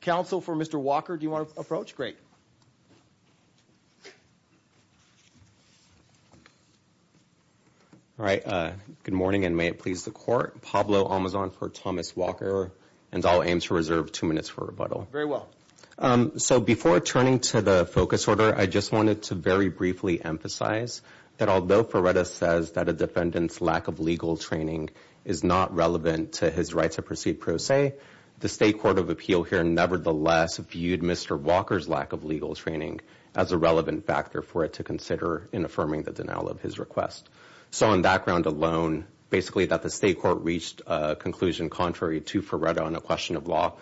Counsel for Mr. Walker, do you want to approach? Great. All right, good morning and may it please the court. Pablo Almazan for Thomas Walker and I'll aim to reserve two minutes for rebuttal. Very well. So before turning to the focus order, I just wanted to very briefly emphasize that although Ferreira says that a defendant's lack of legal training is not relevant to his right to proceed pro se, the state court of appeal here nevertheless viewed Mr. Walker's lack of legal training as a relevant factor for it to consider in affirming the denial of his request. So on that ground alone, basically that the state court reached a conclusion contrary to Ferreira on a question of law.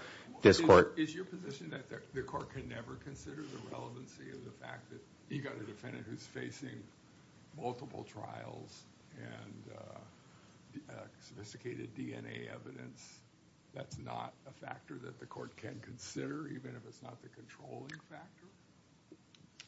Is your position that the court can never consider the relevancy of the fact that you got a defendant who's facing multiple trials and sophisticated DNA evidence? That's not a factor that the court can consider, even if it's not the controlling factor.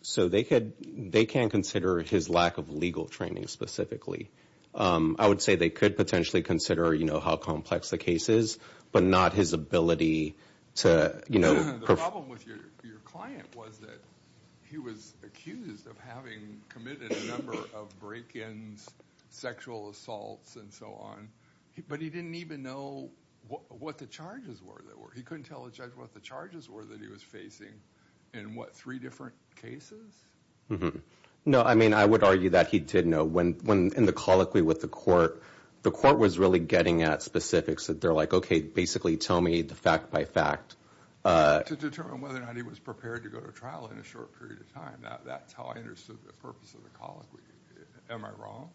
So they could they can consider his lack of legal training specifically. I would say they could potentially consider, you know, how complex the case is, but not his ability to, you know. The problem with your client was that he was accused of having committed a number of break ins, sexual assaults and so on. But he didn't even know what the charges were. He couldn't tell the judge what the charges were that he was facing in what, three different cases? No, I mean, I would argue that he did know when in the colloquy with the court. The court was really getting at specifics that they're like, OK, basically tell me the fact by fact. To determine whether or not he was prepared to go to trial in a short period of time. That's how I understood the purpose of the colloquy. Am I wrong?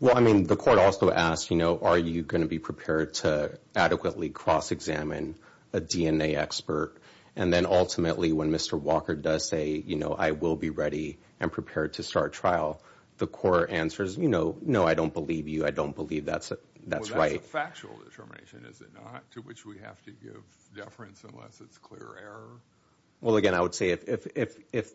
Well, I mean, the court also asked, you know, are you going to be prepared to adequately cross examine a DNA expert? And then ultimately, when Mr. Walker does say, you know, I will be ready and prepared to start trial. The court answers, you know, no, I don't believe you. I don't believe that's right. That's a factual determination, is it not? To which we have to give deference unless it's clear error. Well, again, I would say if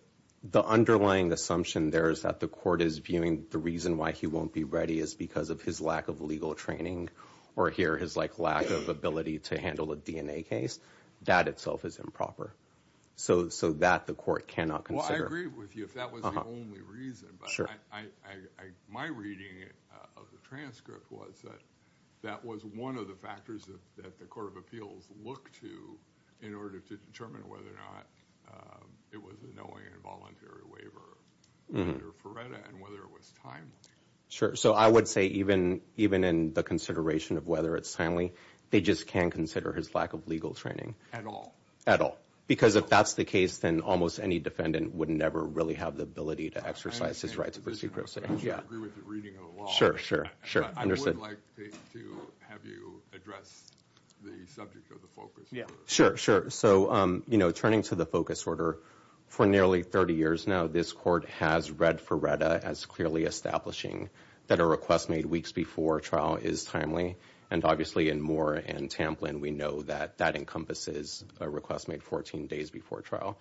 the underlying assumption there is that the court is viewing the reason why he won't be ready is because of his lack of legal training. Or here is like lack of ability to handle a DNA case. That itself is improper. So so that the court cannot consider. I agree with you. If that was the only reason. I my reading of the transcript was that that was one of the factors that the Court of Appeals look to in order to determine whether or not it was a knowing involuntary waiver for and whether it was time. Sure. So I would say even even in the consideration of whether it's timely, they just can consider his lack of legal training at all at all. Because if that's the case, then almost any defendant would never really have the ability to exercise his right to proceed. Yeah. Sure. Sure. Sure. Understood. Like to have you address the subject of the focus. Yeah. Sure. Sure. So, you know, turning to the focus order for nearly 30 years now, this court has read for Reda as clearly establishing that a request made weeks before trial is timely. And obviously, in Moore and Tamplin, we know that that encompasses a request made 14 days before trial.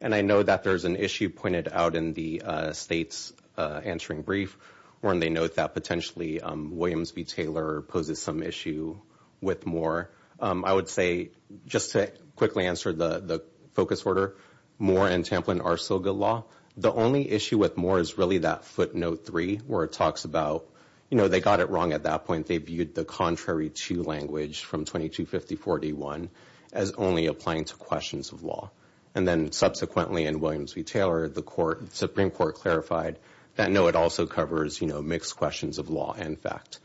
And I know that there is an issue pointed out in the state's answering brief where they note that potentially Williams v. Taylor poses some issue with Moore. I would say just to quickly answer the focus order, Moore and Tamplin are still good law. The only issue with Moore is really that footnote three where it talks about, you know, they got it wrong at that point. They viewed the contrary to language from 2250-41 as only applying to questions of law. And then subsequently in Williams v. Taylor, the Supreme Court clarified that, no, it also covers, you know, mixed questions of law and fact.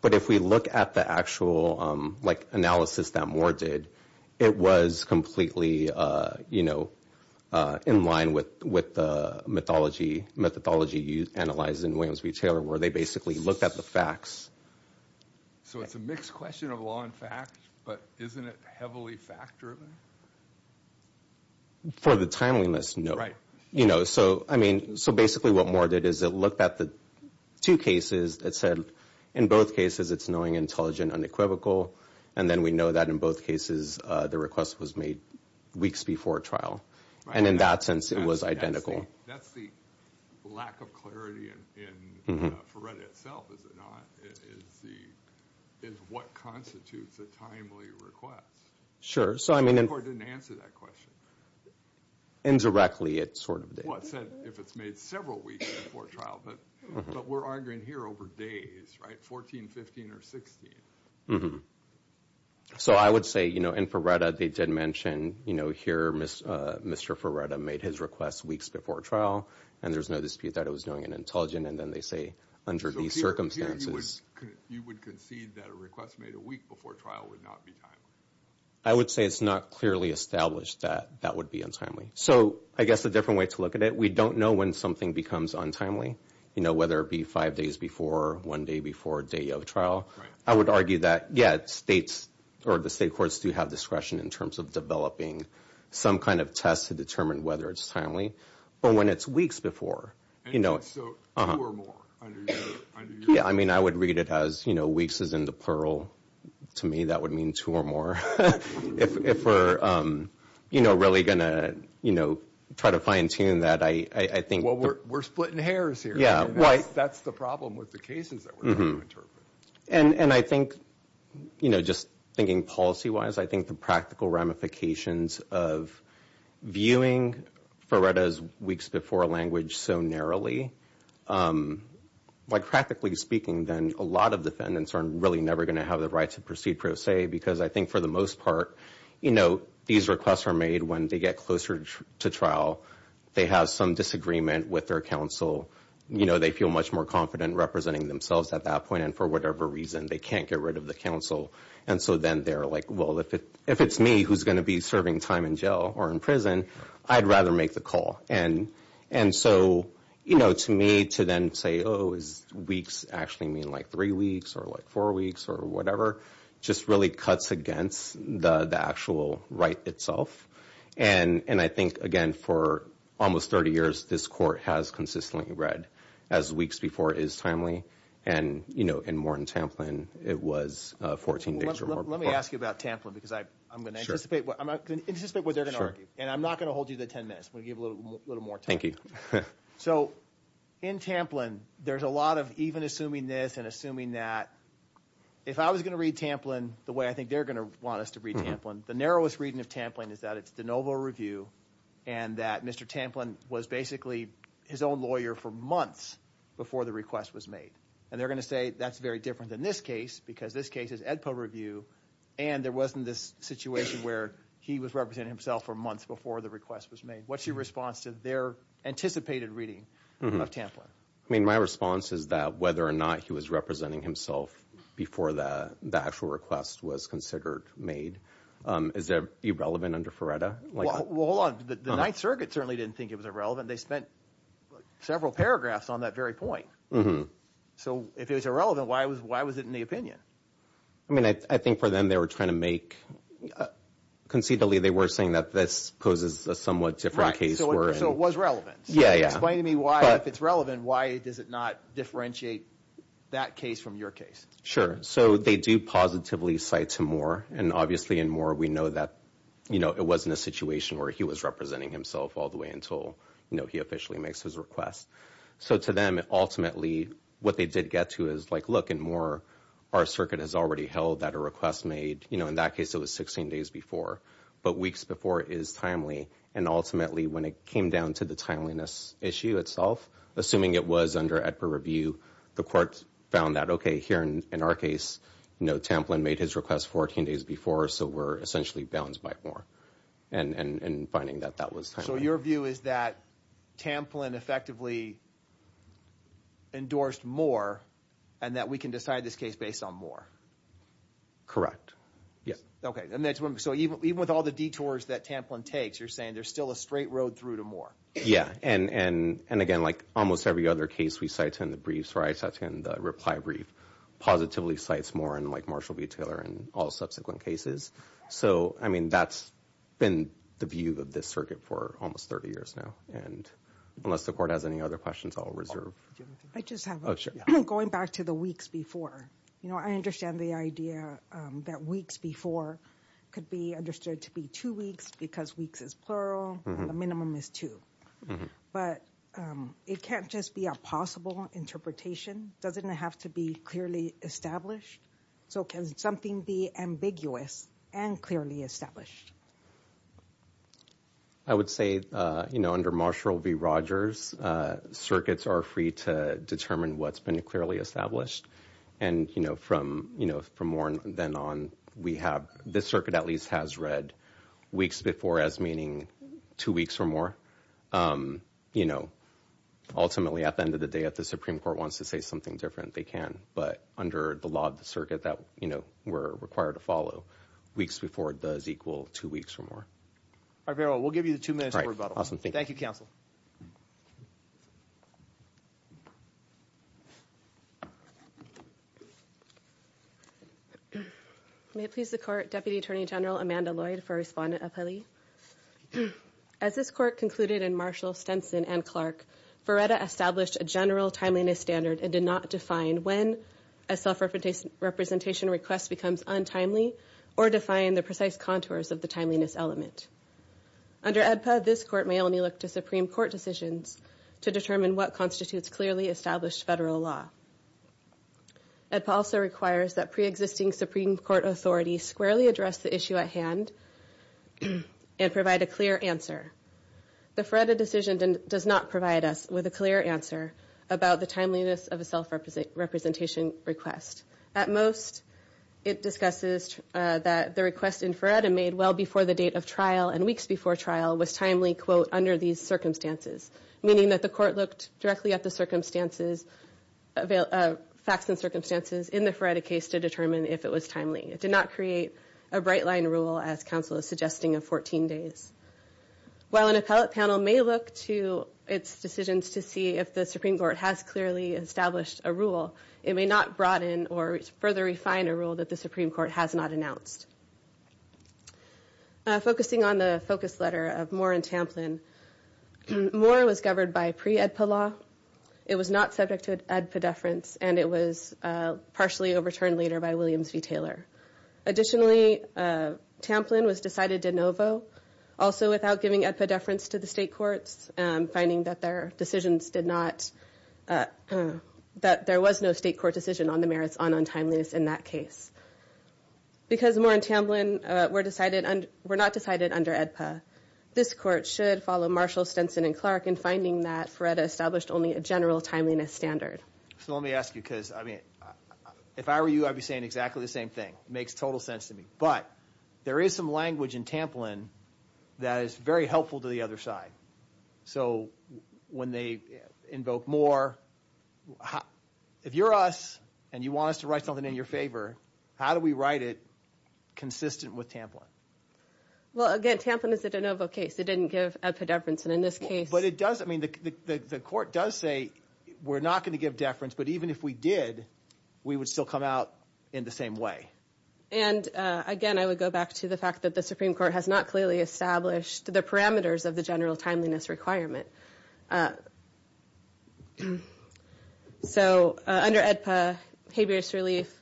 But if we look at the actual, like, analysis that Moore did, it was completely, you know, in line with the mythology you analyze in Williams v. Taylor where they basically looked at the facts. So it's a mixed question of law and fact, but isn't it heavily fact-driven? For the timeliness, no. Right. You know, so, I mean, so basically what Moore did is it looked at the two cases that said in both cases it's knowing, intelligent, unequivocal. And then we know that in both cases the request was made weeks before trial. Right. And in that sense it was identical. That's the lack of clarity in Ferretti itself, is it not? Is what constitutes a timely request? Sure. The Supreme Court didn't answer that question. Indirectly, it sort of did. Well, it said if it's made several weeks before trial, but we're arguing here over days, right, 14, 15, or 16. So I would say, you know, in Ferretti they did mention, you know, here Mr. Ferretti made his request weeks before trial, and there's no dispute that it was knowing and intelligent. And then they say under these circumstances. So here you would concede that a request made a week before trial would not be timely? I would say it's not clearly established that that would be untimely. So I guess a different way to look at it, we don't know when something becomes untimely, you know, whether it be five days before, one day before day of trial. Right. I would argue that, yeah, states or the state courts do have discretion in terms of developing some kind of test to determine whether it's timely. But when it's weeks before, you know. So two or more? Yeah, I mean, I would read it as, you know, weeks is in the plural. To me that would mean two or more. If we're, you know, really going to, you know, try to fine tune that, I think. Well, we're splitting hairs here. Yeah, right. That's the problem with the cases that we're trying to interpret. And I think, you know, just thinking policy-wise, I think the practical ramifications of viewing FRERTA as weeks before language so narrowly, like practically speaking then, a lot of defendants are really never going to have the right to proceed per se, because I think for the most part, you know, these requests are made when they get closer to trial. They have some disagreement with their counsel. You know, they feel much more confident representing themselves at that point. And for whatever reason, they can't get rid of the counsel. And so then they're like, well, if it's me who's going to be serving time in jail or in prison, I'd rather make the call. And so, you know, to me, to then say, oh, is weeks actually mean like three weeks or like four weeks or whatever, just really cuts against the actual right itself. And I think, again, for almost 30 years, this court has consistently read as weeks before is timely. And, you know, in Morton Tamplin, it was 14 days or more before. Let me ask you about Tamplin, because I'm going to anticipate what they're going to argue. And I'm not going to hold you to 10 minutes. I'm going to give a little more time. So in Tamplin, there's a lot of even assuming this and assuming that. If I was going to read Tamplin the way I think they're going to want us to read Tamplin, the narrowest reading of Tamplin is that it's de novo review and that Mr. Tamplin was basically his own lawyer for months before the request was made. And they're going to say that's very different than this case, because this case is Edpo review. And there wasn't this situation where he was representing himself for months before the request was made. What's your response to their anticipated reading of Tamplin? I mean, my response is that whether or not he was representing himself before the actual request was considered made is irrelevant under Feretta. Well, hold on. The Ninth Circuit certainly didn't think it was irrelevant. They spent several paragraphs on that very point. So if it was irrelevant, why was why was it in the opinion? I mean, I think for them, they were trying to make conceitually. They were saying that this poses a somewhat different case. So it was relevant. Yeah. Yeah. Explain to me why if it's relevant, why does it not differentiate that case from your case? Sure. So they do positively cite to Moore. And obviously in Moore, we know that, you know, it wasn't a situation where he was representing himself all the way until, you know, he officially makes his request. So to them, ultimately, what they did get to is like, look, in Moore, our circuit has already held that a request made, you know, in that case, it was 16 days before. But weeks before is timely. And ultimately, when it came down to the timeliness issue itself, assuming it was under a review, the court found that. OK, here in our case, you know, Tamplin made his request 14 days before. So we're essentially bound by Moore and finding that that was. So your view is that Tamplin effectively endorsed Moore and that we can decide this case based on Moore. Correct. Yes. OK. So even with all the detours that Tamplin takes, you're saying there's still a straight road through to Moore. Yeah. And and again, like almost every other case we cite in the briefs, right? That's in the reply brief positively cites Moore and like Marshall B. Taylor and all subsequent cases. So, I mean, that's been the view of this circuit for almost 30 years now. And unless the court has any other questions, I'll reserve. I just have going back to the weeks before. You know, I understand the idea that weeks before could be understood to be two weeks because weeks is plural. The minimum is two. But it can't just be a possible interpretation. Doesn't it have to be clearly established? So can something be ambiguous and clearly established? I would say, you know, under Marshall v. Rogers, circuits are free to determine what's been clearly established. And, you know, from, you know, from more than on, we have this circuit at least has read weeks before as meaning two weeks or more. You know, ultimately, at the end of the day, if the Supreme Court wants to say something different, they can. But under the law of the circuit that, you know, we're required to follow weeks before it does equal two weeks or more. All right. We'll give you the two minutes. Awesome. Thank you, counsel. May it please the court. Deputy Attorney General Amanda Lloyd for respondent. As this court concluded in Marshall Stenson and Clark, established a general timeliness standard and did not define when a self-representation request becomes untimely or define the precise contours of the timeliness element. Under this court may only look to Supreme Court decisions to determine what constitutes clearly established federal law. It also requires that pre-existing Supreme Court authorities squarely address the issue at hand and provide a clear answer. The Freda decision does not provide us with a clear answer about the timeliness of a self-represent representation request. At most, it discusses that the request in Freda made well before the date of trial and weeks before trial was timely, quote, under these circumstances, meaning that the court looked directly at the circumstances of facts and circumstances in the Freda case to determine if it was timely. It did not create a bright line rule, as counsel is suggesting, of 14 days. While an appellate panel may look to its decisions to see if the Supreme Court has clearly established a rule, it may not broaden or further refine a rule that the Supreme Court has not announced. Focusing on the focus letter of Moore and Tamplin, Moore was governed by pre-EDPA law. It was not subject to EDPA deference, and it was partially overturned later by Williams v. Taylor. Additionally, Tamplin was decided de novo, also without giving EDPA deference to the state courts, finding that there was no state court decision on the merits on untimeliness in that case. Because Moore and Tamplin were not decided under EDPA, this court should follow Marshall, Stinson, and Clark in finding that Freda established only a general timeliness standard. So let me ask you, because, I mean, if I were you, I'd be saying exactly the same thing. It makes total sense to me. But there is some language in Tamplin that is very helpful to the other side. So when they invoke Moore, if you're us and you want us to write something in your favor, how do we write it consistent with Tamplin? Well, again, Tamplin is a de novo case. It didn't give EDPA deference. But it does, I mean, the court does say we're not going to give deference, but even if we did, we would still come out in the same way. And, again, I would go back to the fact that the Supreme Court has not clearly established the parameters of the general timeliness requirement. So under EDPA, habeas relief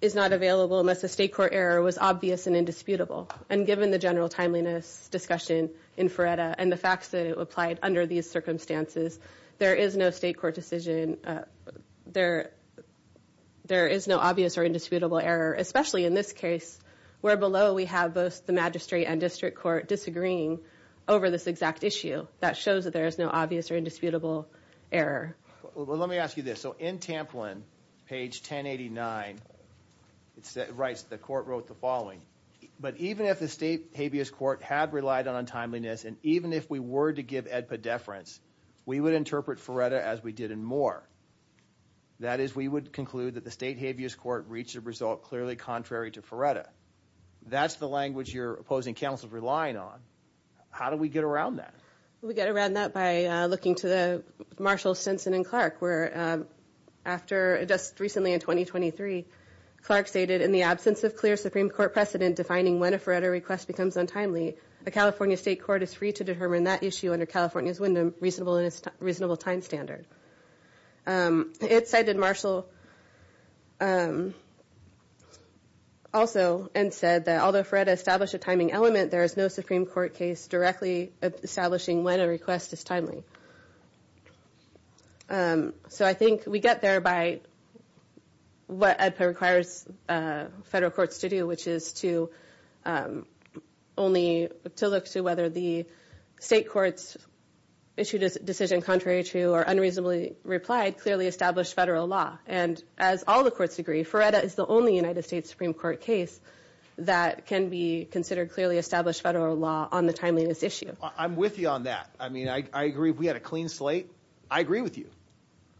is not available unless a state court error was obvious and indisputable. And given the general timeliness discussion in FRERETA and the facts that it applied under these circumstances, there is no state court decision, there is no obvious or indisputable error, especially in this case where below we have both the magistrate and district court disagreeing over this exact issue. That shows that there is no obvious or indisputable error. Well, let me ask you this. So in Tamplin, page 1089, it writes, the court wrote the following. But even if the state habeas court had relied on timeliness and even if we were to give EDPA deference, we would interpret FRERETA as we did in Moore. That is, we would conclude that the state habeas court reached a result clearly contrary to FRERETA. That's the language your opposing counsel is relying on. How do we get around that? We get around that by looking to the Marshall, Stinson, and Clark, where just recently in 2023, Clark stated, in the absence of clear Supreme Court precedent defining when a FRERETA request becomes untimely, a California state court is free to determine that issue under California's reasonable time standard. It cited Marshall also and said that although FRERETA established a timing element, there is no Supreme Court case directly establishing when a request is timely. So I think we get there by what EDPA requires federal courts to do, which is to only look to whether the state courts issued a decision contrary to or unreasonably replied clearly established federal law. And as all the courts agree, FRERETA is the only United States Supreme Court case that can be considered clearly established federal law on the timeliness issue. I'm with you on that. I mean, I agree. If we had a clean slate, I agree with you.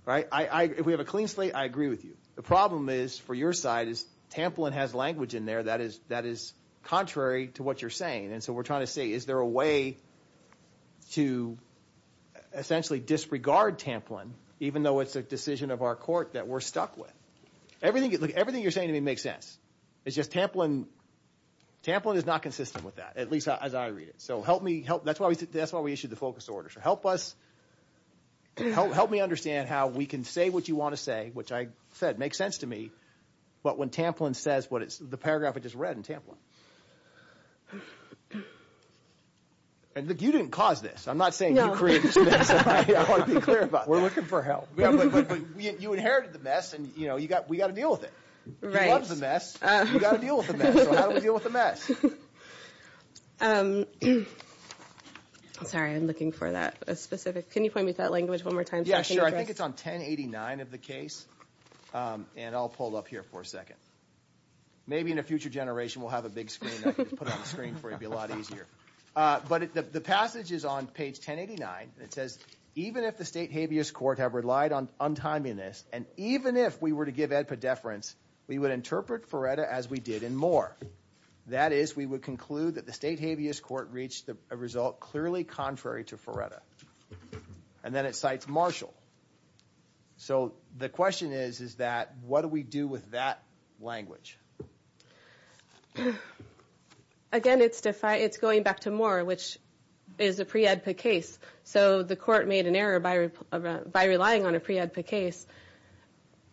Right? If we have a clean slate, I agree with you. The problem is, for your side, is Tamplin has language in there that is contrary to what you're saying. And so we're trying to say, is there a way to essentially disregard Tamplin, even though it's a decision of our court that we're stuck with? Everything you're saying to me makes sense. It's just Tamplin is not consistent with that, at least as I read it. So help me help. That's why we issued the focus order. So help us. Help me understand how we can say what you want to say, which I said makes sense to me, but when Tamplin says what the paragraph I just read in Tamplin. And you didn't cause this. I'm not saying you created this mess. I want to be clear about that. We're looking for help. You inherited the mess, and we've got to deal with it. You love the mess. You've got to deal with the mess. So how do we deal with the mess? Sorry, I'm looking for that specific. Can you point me to that language one more time? Yeah, sure. I think it's on 1089 of the case, and I'll pull it up here for a second. Maybe in a future generation we'll have a big screen that I can put on the screen for you. It would be a lot easier. But the passage is on page 1089, and it says, Even if the state habeas court had relied on untimeliness, and even if we were to give EDPA deference, we would interpret Feretta as we did in Moore. That is, we would conclude that the state habeas court reached a result clearly contrary to Feretta. And then it cites Marshall. So the question is, is that what do we do with that language? Again, it's going back to Moore, which is a pre-EDPA case. So the court made an error by relying on a pre-EDPA case.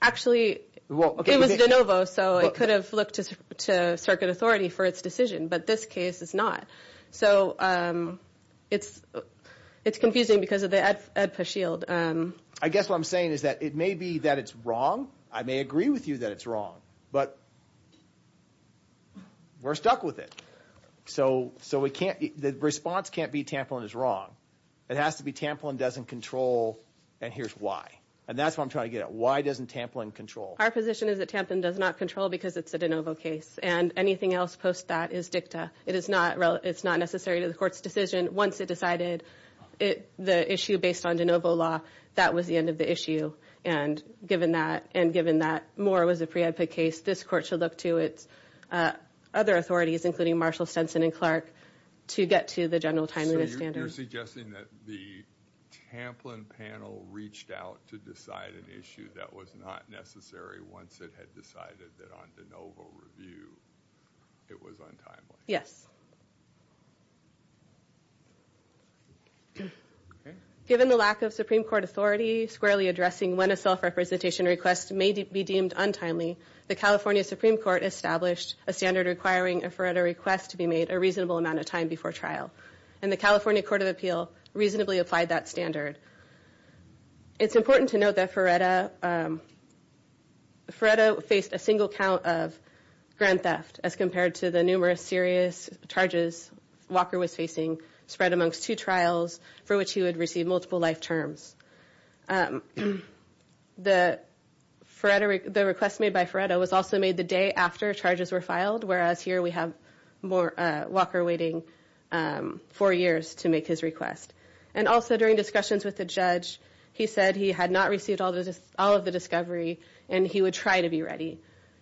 Actually, it was de novo, so it could have looked to circuit authority for its decision, but this case is not. So it's confusing because of the EDPA shield. I guess what I'm saying is that it may be that it's wrong. I may agree with you that it's wrong, but we're stuck with it. So the response can't be Tamplin is wrong. It has to be Tamplin doesn't control, and here's why. And that's what I'm trying to get at. Why doesn't Tamplin control? Our position is that Tamplin does not control because it's a de novo case, and anything else post that is dicta. It's not necessary to the court's decision. Once it decided the issue based on de novo law, that was the end of the issue. And given that Moore was a pre-EDPA case, this court should look to its other authorities, including Marshall, Stenson, and Clark, to get to the general timeliness standard. So you're suggesting that the Tamplin panel reached out to decide an issue that was not necessary once it had decided that on de novo review it was untimely? Yes. Given the lack of Supreme Court authority squarely addressing when a self-representation request may be deemed untimely, the California Supreme Court established a standard requiring a FRERTA request to be made a reasonable amount of time before trial. And the California Court of Appeal reasonably applied that standard. It's important to note that FRERTA faced a single count of grand theft as compared to the numerous serious charges Walker was facing spread amongst two trials for which he would receive multiple life terms. The request made by FRERTA was also made the day after charges were filed, whereas here we have Walker waiting four years to make his request. And also during discussions with the judge, he said he had not received all of the discovery and he would try to be ready.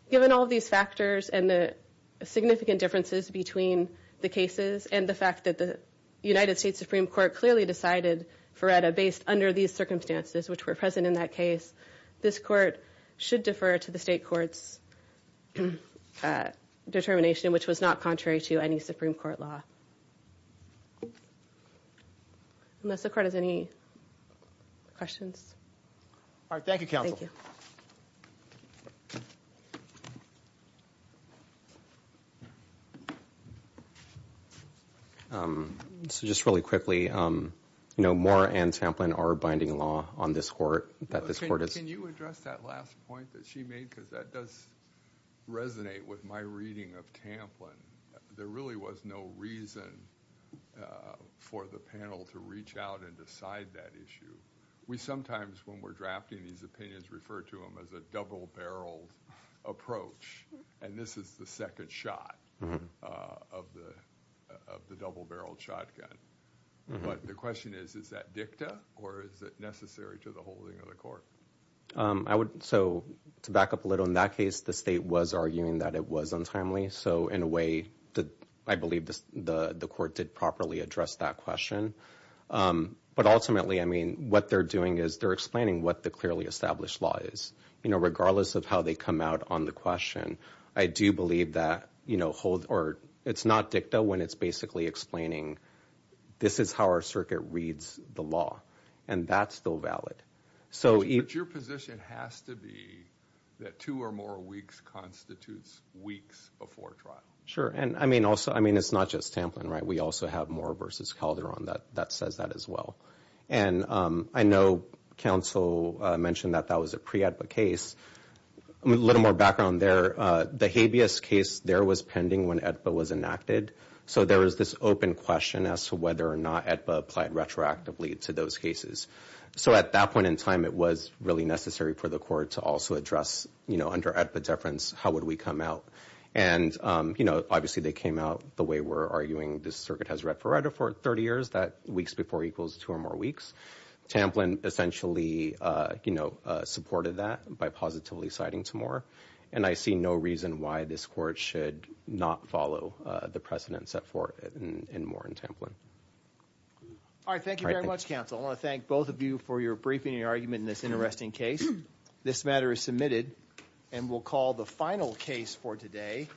Given all of these factors and the significant differences between the cases and the fact that the United States Supreme Court clearly decided FRERTA based under these circumstances which were present in that case, this court should defer to the state court's determination, which was not contrary to any Supreme Court law. Unless the court has any questions. All right, thank you, Counsel. So just really quickly, you know, Moore and Tamplin are binding law on this court. Can you address that last point that she made because that does resonate with my reading of Tamplin. There really was no reason for the panel to reach out and decide that issue. We sometimes, when we're drafting these opinions, refer to them as a double-barreled approach. And this is the second shot of the double-barreled shotgun. But the question is, is that dicta or is it necessary to the holding of the court? So to back up a little, in that case, the state was arguing that it was untimely. So in a way, I believe the court did properly address that question. But ultimately, I mean, what they're doing is they're explaining what the clearly established law is. You know, regardless of how they come out on the question, I do believe that, you know, it's not dicta when it's basically explaining this is how our circuit reads the law. And that's still valid. But your position has to be that two or more weeks constitutes weeks before trial. Sure. And I mean, also, I mean, it's not just Tamplin, right? We also have Moore v. Calderon that says that as well. And I know counsel mentioned that that was a pre-AEDPA case. A little more background there, the habeas case there was pending when AEDPA was enacted. So there was this open question as to whether or not AEDPA applied retroactively to those cases. So at that point in time, it was really necessary for the court to also address, you know, under AEDPA deference, how would we come out? And, you know, obviously they came out the way we're arguing this circuit has read for 30 years, that weeks before equals two or more weeks. Tamplin essentially, you know, supported that by positively siding to Moore. And I see no reason why this court should not follow the precedent set for Moore and Tamplin. All right. Thank you very much, counsel. I want to thank both of you for your briefing and your argument in this interesting case. This matter is submitted and we'll call the final case for today.